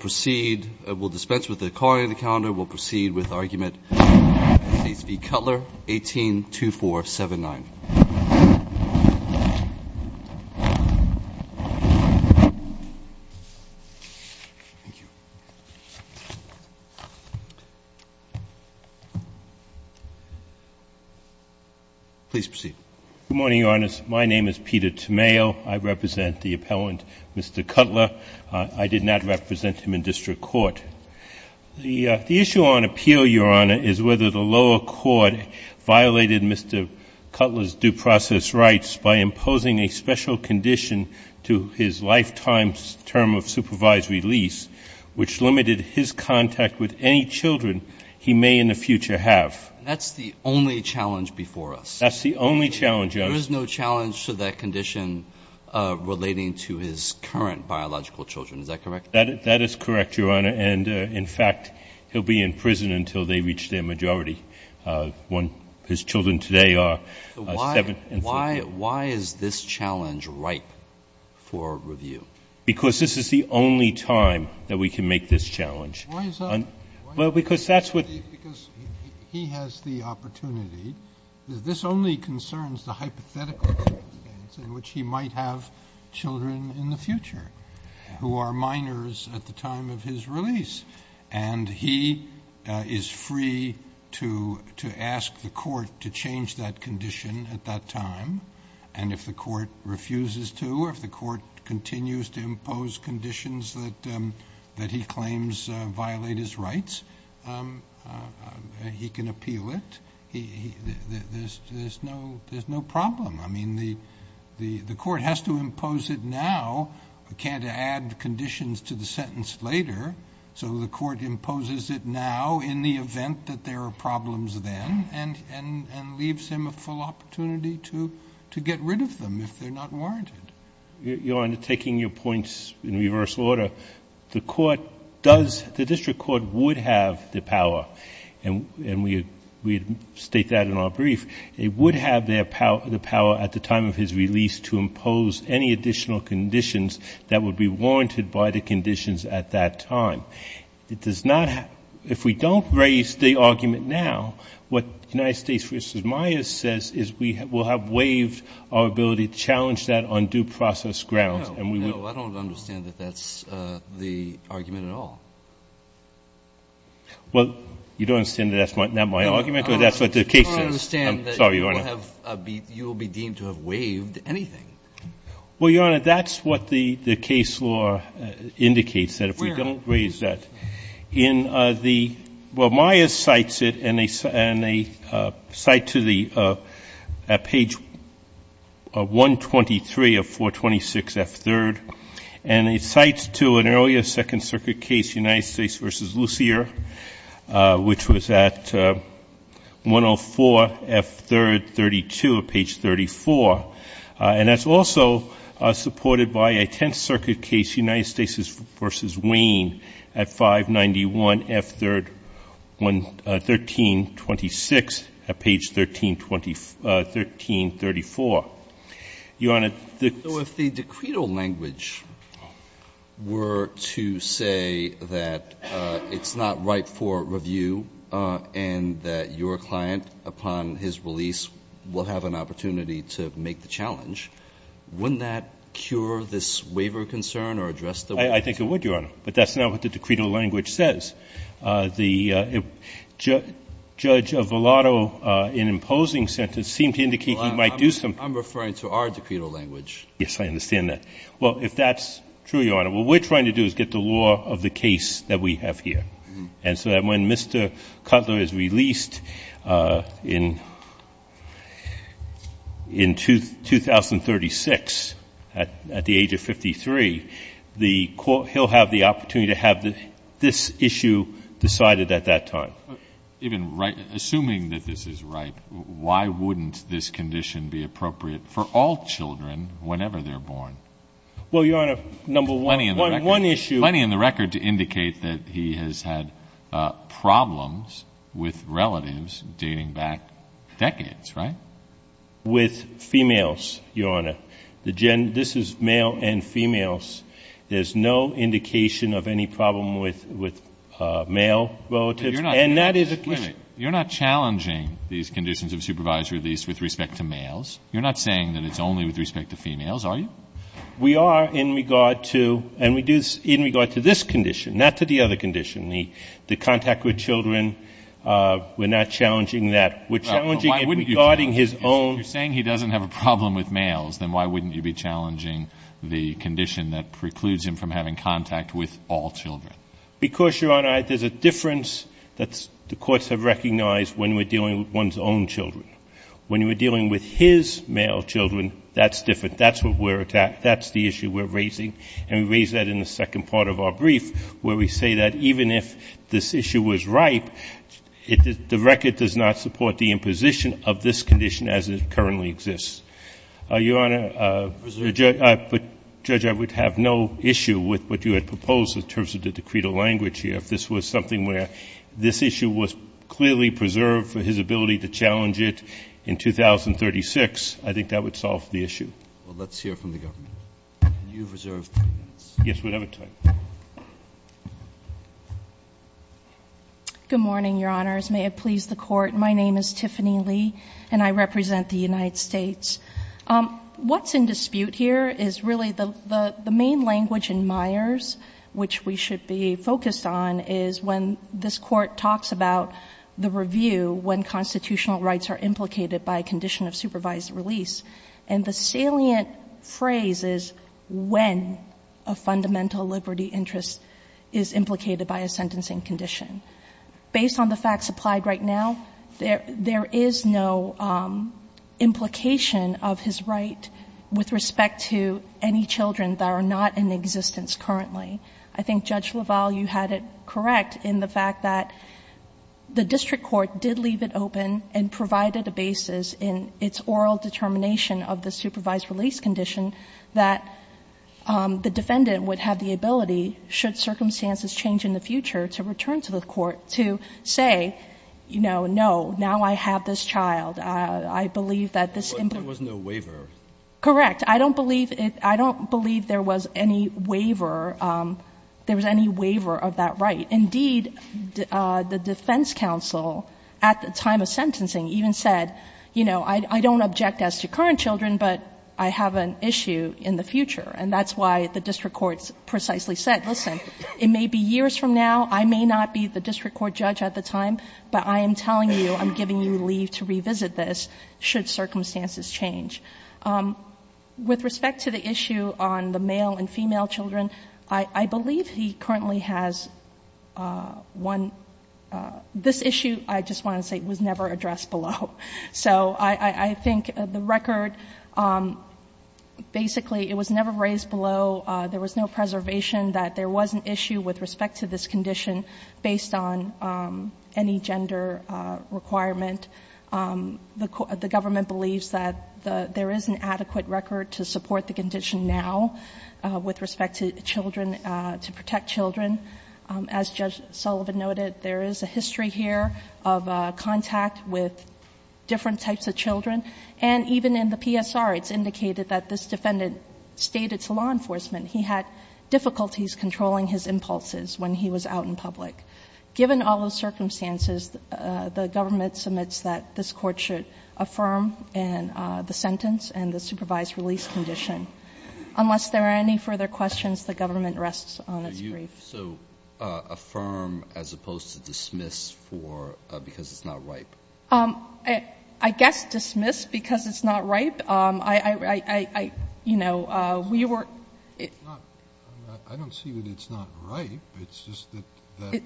We'll proceed, we'll dispense with the calling of the calendar, we'll proceed with argument in the States v. Cutler, 182479. Please proceed. Good morning, Your Honor. My name is Peter Tomeo. I represent the appellant, Mr. Cutler. I did not represent him in district court. The issue on appeal, Your Honor, is whether the lower court violated Mr. Cutler's due process rights by imposing a special condition to his lifetime's term of supervisory lease, which limited his contact with any children he may in the future have. That's the only challenge before us. That's the only challenge, Your Honor. There is no challenge to that condition relating to his current biological children. Is that correct? That is correct, Your Honor, and, in fact, he'll be in prison until they reach their majority. His children today are 7 and 3. Why is this challenge ripe for review? Because this is the only time that we can make this challenge. Why is that? Well, because that's what he has the opportunity. This only concerns the hypothetical circumstance in which he might have children in the future who are minors at the time of his release. And he is free to ask the court to change that condition at that time. And if the court refuses to or if the court continues to impose conditions that he claims violate his rights, he can appeal it. There's no problem. I mean, the court has to impose it now. It can't add conditions to the sentence later. So the court imposes it now in the event that there are problems then and leaves him a full opportunity to get rid of them if they're not warranted. Your Honor, taking your points in reverse order, the court does, the district court would have the power, and we state that in our brief, it would have the power at the time of his release to impose any additional conditions that would be warranted by the conditions at that time. It does not have, if we don't raise the argument now, what United States v. Myers says is we will have waived our ability to challenge that on due process grounds. No, I don't understand that that's the argument at all. Well, you don't understand that that's not my argument or that's what the case says? I'm sorry, Your Honor. I don't understand that you will be deemed to have waived anything. Well, Your Honor, that's what the case law indicates, that if we don't raise that. Where? Myers cites it, and they cite to the page 123 of 426F3rd, and it cites to an earlier Second Circuit case, United States v. Lucier, which was at 104F3rd 32 of page 34. And that's also supported by a Tenth Circuit case, United States v. Wayne at 591F3rd 1326 of page 1334. Your Honor, the ---- So if the decreto language were to say that it's not right for review and that your client, upon his release, will have an opportunity to make the challenge, wouldn't that cure this waiver concern or address the waiver concern? I think it would, Your Honor. But that's not what the decreto language says. The judge of Volato, in imposing sentence, seemed to indicate he might do something. I'm referring to our decreto language. Yes, I understand that. Well, if that's true, Your Honor, what we're trying to do is get the law of the case that we have here. And so that when Mr. Cutler is released in 2036 at the age of 53, he'll have the opportunity to have this issue decided at that time. Even assuming that this is right, why wouldn't this condition be appropriate for all children whenever they're born? Well, Your Honor, number one, one issue ---- You've had problems with relatives dating back decades, right? With females, Your Honor. This is male and females. There's no indication of any problem with male relatives. And that is a ---- Wait a minute. You're not challenging these conditions of supervisory release with respect to males. You're not saying that it's only with respect to females, are you? We are in regard to, and we do this in regard to this condition, not to the other condition, the contact with children. We're not challenging that. We're challenging it regarding his own ---- If you're saying he doesn't have a problem with males, then why wouldn't you be challenging the condition that precludes him from having contact with all children? Because, Your Honor, there's a difference that the courts have recognized when we're dealing with one's own children. When we're dealing with his male children, that's different. That's what we're ---- That's the issue we're raising. And we raise that in the second part of our brief where we say that even if this issue was ripe, the record does not support the imposition of this condition as it currently exists. Your Honor, but, Judge, I would have no issue with what you had proposed in terms of the decreed language here if this was something where this issue was clearly preserved for his ability to challenge it. In 2036, I think that would solve the issue. Well, let's hear from the government. You've reserved three minutes. Yes, whatever time. Good morning, Your Honors. May it please the Court. My name is Tiffany Lee, and I represent the United States. What's in dispute here is really the main language in Myers, which we should be focused on, is when this Court talks about the review when constitutional rights are implicated by a condition of supervised release. And the salient phrase is when a fundamental liberty interest is implicated by a sentencing condition. Based on the facts applied right now, there is no implication of his right with respect to any children that are not in existence currently. I think Judge LaValle, you had it correct in the fact that the district court did leave it open and provided a basis in its oral determination of the supervised release condition that the defendant would have the ability, should circumstances change in the future, to return to the court to say, you know, no, now I have this child. I believe that this important. There was no waiver. Correct. I don't believe there was any waiver of that right. Indeed, the defense counsel at the time of sentencing even said, you know, I don't object as to current children, but I have an issue in the future. And that's why the district court precisely said, listen, it may be years from now. I may not be the district court judge at the time, but I am telling you I'm giving you leave to revisit this should circumstances change. With respect to the issue on the male and female children, I believe he currently has one. This issue, I just want to say, was never addressed below. So I think the record, basically, it was never raised below. There was no preservation that there was an issue with respect to this condition based on any gender requirement. The government believes that there is an adequate record to support the condition now with respect to children, to protect children. As Judge Sullivan noted, there is a history here of contact with different types of children. And even in the PSR, it's indicated that this defendant stayed at law enforcement. He had difficulties controlling his impulses when he was out in public. Given all those circumstances, the government submits that this court should affirm the sentence and the supervised release condition. Unless there are any further questions, the government rests on its brief. So affirm as opposed to dismiss for, because it's not ripe. I guess dismiss because it's not ripe. I, you know, we were. I don't see that it's not ripe. It's just that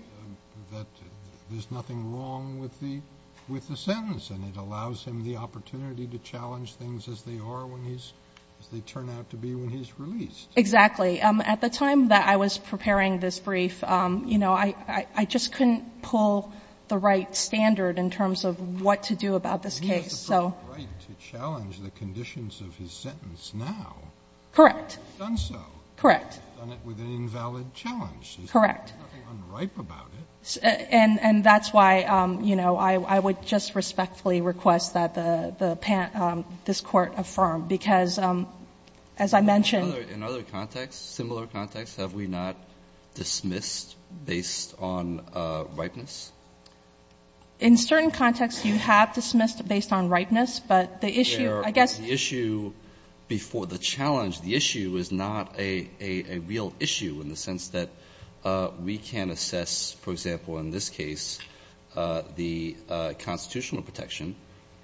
there's nothing wrong with the sentence, and it allows him the opportunity to challenge things as they are when he's, as they turn out to be when he's released. Exactly. At the time that I was preparing this brief, you know, I just couldn't pull the right standard in terms of what to do about this case. So. He has the right to challenge the conditions of his sentence now. Correct. He's done so. Correct. He's done it with an invalid challenge. Correct. There's nothing unripe about it. And that's why, you know, I would just respectfully request that the, this court affirm, because as I mentioned. In other contexts, similar contexts, have we not dismissed based on ripeness? In certain contexts, you have dismissed based on ripeness, but the issue, I guess. The issue before the challenge, the issue is not a real issue in the sense that we can assess, for example, in this case, the constitutional protection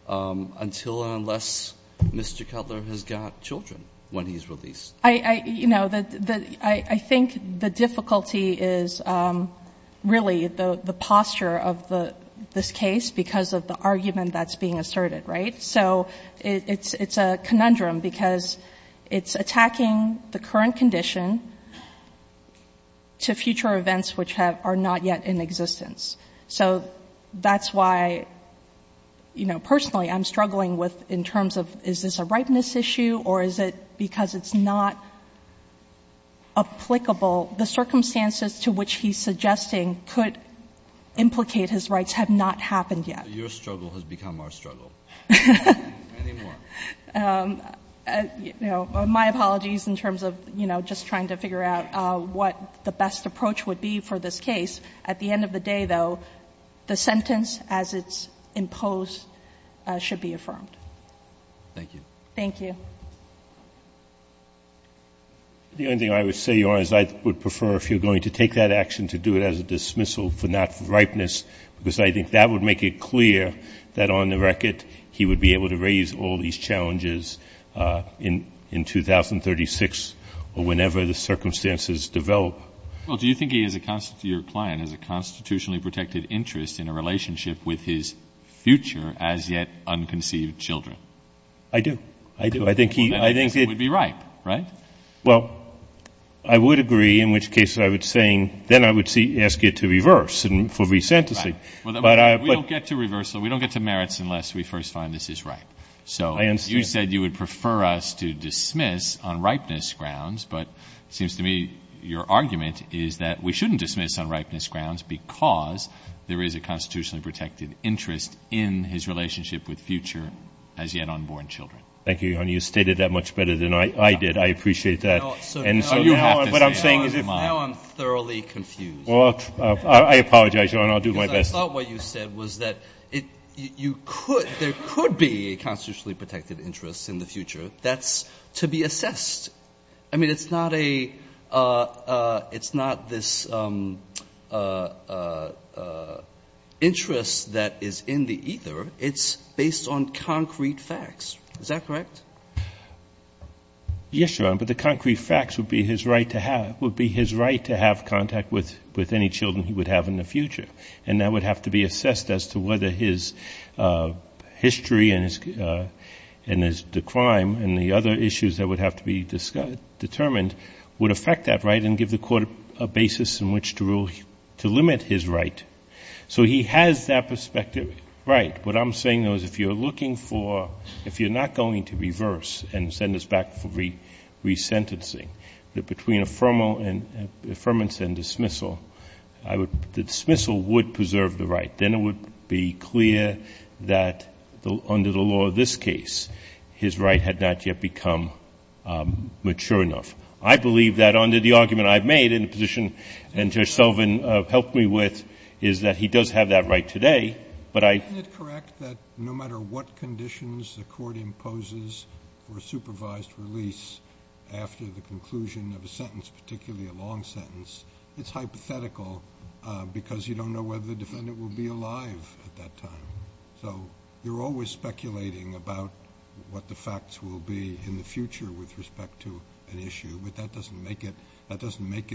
until or unless Mr. Cutler has got children when he's released. I, you know, I think the difficulty is really the posture of this case because of the argument that's being asserted, right? So it's a conundrum because it's attacking the current condition to future events which have, are not yet in existence. So that's why, you know, personally, I'm struggling with in terms of is this a ripeness issue or is it because it's not applicable. The circumstances to which he's suggesting could implicate his rights have not happened yet. Your struggle has become our struggle. Any more? You know, my apologies in terms of, you know, just trying to figure out what the best approach would be for this case. At the end of the day, though, the sentence as it's imposed should be affirmed. Thank you. Thank you. The only thing I would say, Your Honor, is I would prefer if you're going to take that action to do it as a dismissal for not ripeness because I think that would make it clear that on the record, he would be able to raise all these challenges in 2036 or whenever the circumstances develop. Well, do you think he is a, your client, has a constitutionally protected interest in a relationship with his future as yet unconceived children? I do. I do. I think he, I think it would be ripe, right? Well, I would agree, in which case I would say, then I would ask you to reverse for re-sentencing. We don't get to reversal. We don't get to merits unless we first find this is ripe. So you said you would prefer us to dismiss on ripeness grounds. But it seems to me your argument is that we shouldn't dismiss on ripeness grounds because there is a constitutionally protected interest in his relationship with future as yet unborn children. Thank you, Your Honor. You stated that much better than I did. I appreciate that. And so now what I'm saying is if. Now I'm thoroughly confused. Well, I apologize, Your Honor. I'll do my best. Because I thought what you said was that you could, there could be a constitutionally protected interest in the future. That's to be assessed. I mean, it's not a, it's not this interest that is in the either. It's based on concrete facts. Is that correct? Yes, Your Honor. But the concrete facts would be his right to have, would be his right to have contact with any children he would have in the future. And that would have to be assessed as to whether his history and his, and his crime and the other issues that would have to be determined would affect that right and give the court a basis in which to rule, to limit his right. So he has that perspective. Right. What I'm saying though is if you're looking for, if you're not going to reverse and send us back for resentencing, that between affirmal and, affirmance and dismissal, I would, the dismissal would preserve the right. Then it would be clear that under the law of this case, his right had not yet become mature enough. I believe that under the argument I've made in the position that Judge Sullivan helped me with is that he does have that right today, but I. Isn't it correct that no matter what conditions the court imposes for a supervised release after the conclusion of a sentence, particularly a long sentence, it's hypothetical because you don't know whether the defendant will be alive at that time. So you're always speculating about what the facts will be in the future with respect to an issue, but that doesn't make it, That's correct,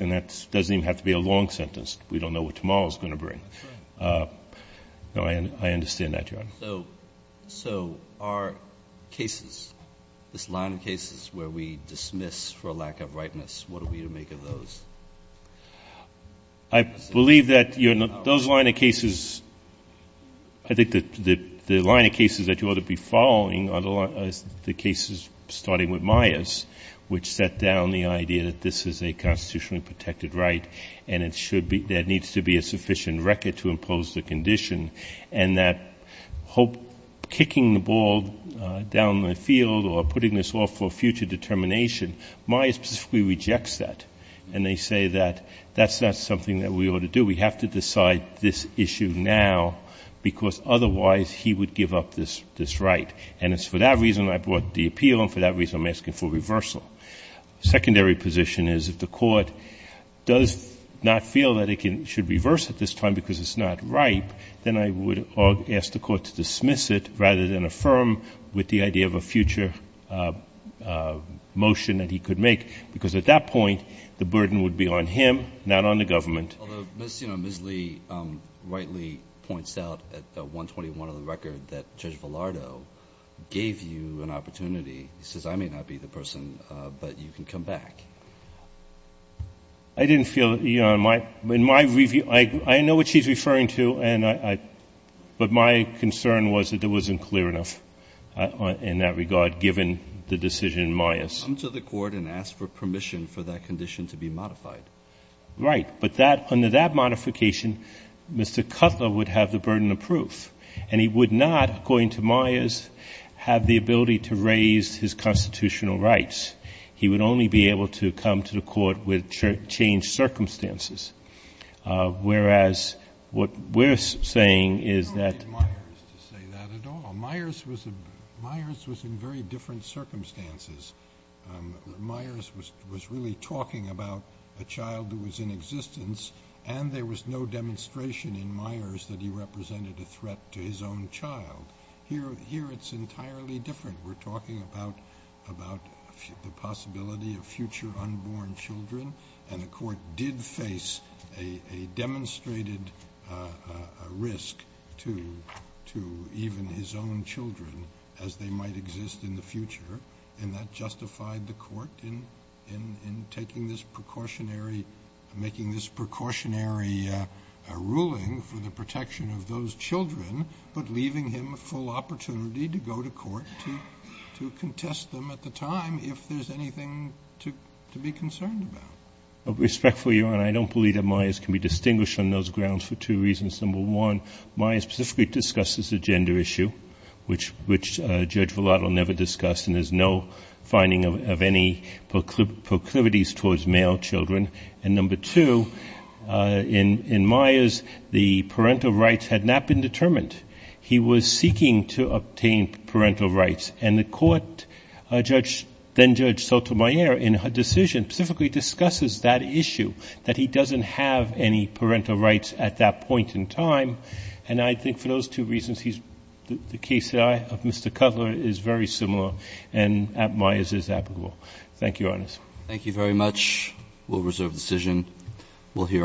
and that doesn't even have to be a long sentence. We don't know what tomorrow is going to bring. No, I understand that, Your Honor. So are cases, this line of cases where we dismiss for a lack of rightness, what are we to make of those? I believe that those line of cases, I think that the line of cases that you ought to be following are the cases starting with Myers. Which set down the idea that this is a constitutionally protected right, and there needs to be a sufficient record to impose the condition. And that kicking the ball down the field or putting this off for future determination, Myers specifically rejects that. And they say that that's not something that we ought to do. We have to decide this issue now, because otherwise he would give up this right. And it's for that reason I brought the appeal, and for that reason I'm asking for reversal. Secondary position is if the court does not feel that it should reverse at this time because it's not right, then I would ask the court to dismiss it rather than affirm with the idea of a future motion that he could make. Because at that point, the burden would be on him, not on the government. Although Ms. Lee rightly points out at 121 of the record that Judge Villardo gave you an opportunity. He says, I may not be the person, but you can come back. I didn't feel that. In my review, I know what she's referring to, but my concern was that it wasn't clear enough in that regard, given the decision in Myers. Come to the court and ask for permission for that condition to be modified. Right. But under that modification, Mr. Cutler would have the burden of proof. And he would not, according to Myers, have the ability to raise his constitutional rights. He would only be able to come to the court with changed circumstances, whereas what we're saying is that- I don't need Myers to say that at all. Myers was in very different circumstances. Myers was really talking about a child who was in existence. And there was no demonstration in Myers that he represented a threat to his own child. Here it's entirely different. We're talking about the possibility of future unborn children. And the court did face a demonstrated risk to even his own children, as they might exist in the future. And that justified the court in taking this precautionary-making this precautionary ruling for the protection of those children, but leaving him full opportunity to go to court to contest them at the time if there's anything to be concerned about. Respectfully, Your Honor, I don't believe that Myers can be distinguished on those grounds for two reasons. Number one, Myers specifically discussed this as a gender issue, which Judge Vellato never discussed, and there's no finding of any proclivities towards male children. And number two, in Myers, the parental rights had not been determined. He was seeking to obtain parental rights. And the court, then-Judge Sotomayor, in her decision specifically discusses that issue, that he doesn't have any parental rights at that point in time. And I think for those two reasons, the case of Mr. Cutler is very similar, and Myers is applicable. Thank you, Your Honor. Thank you very much. We'll reserve the decision. We'll hear our-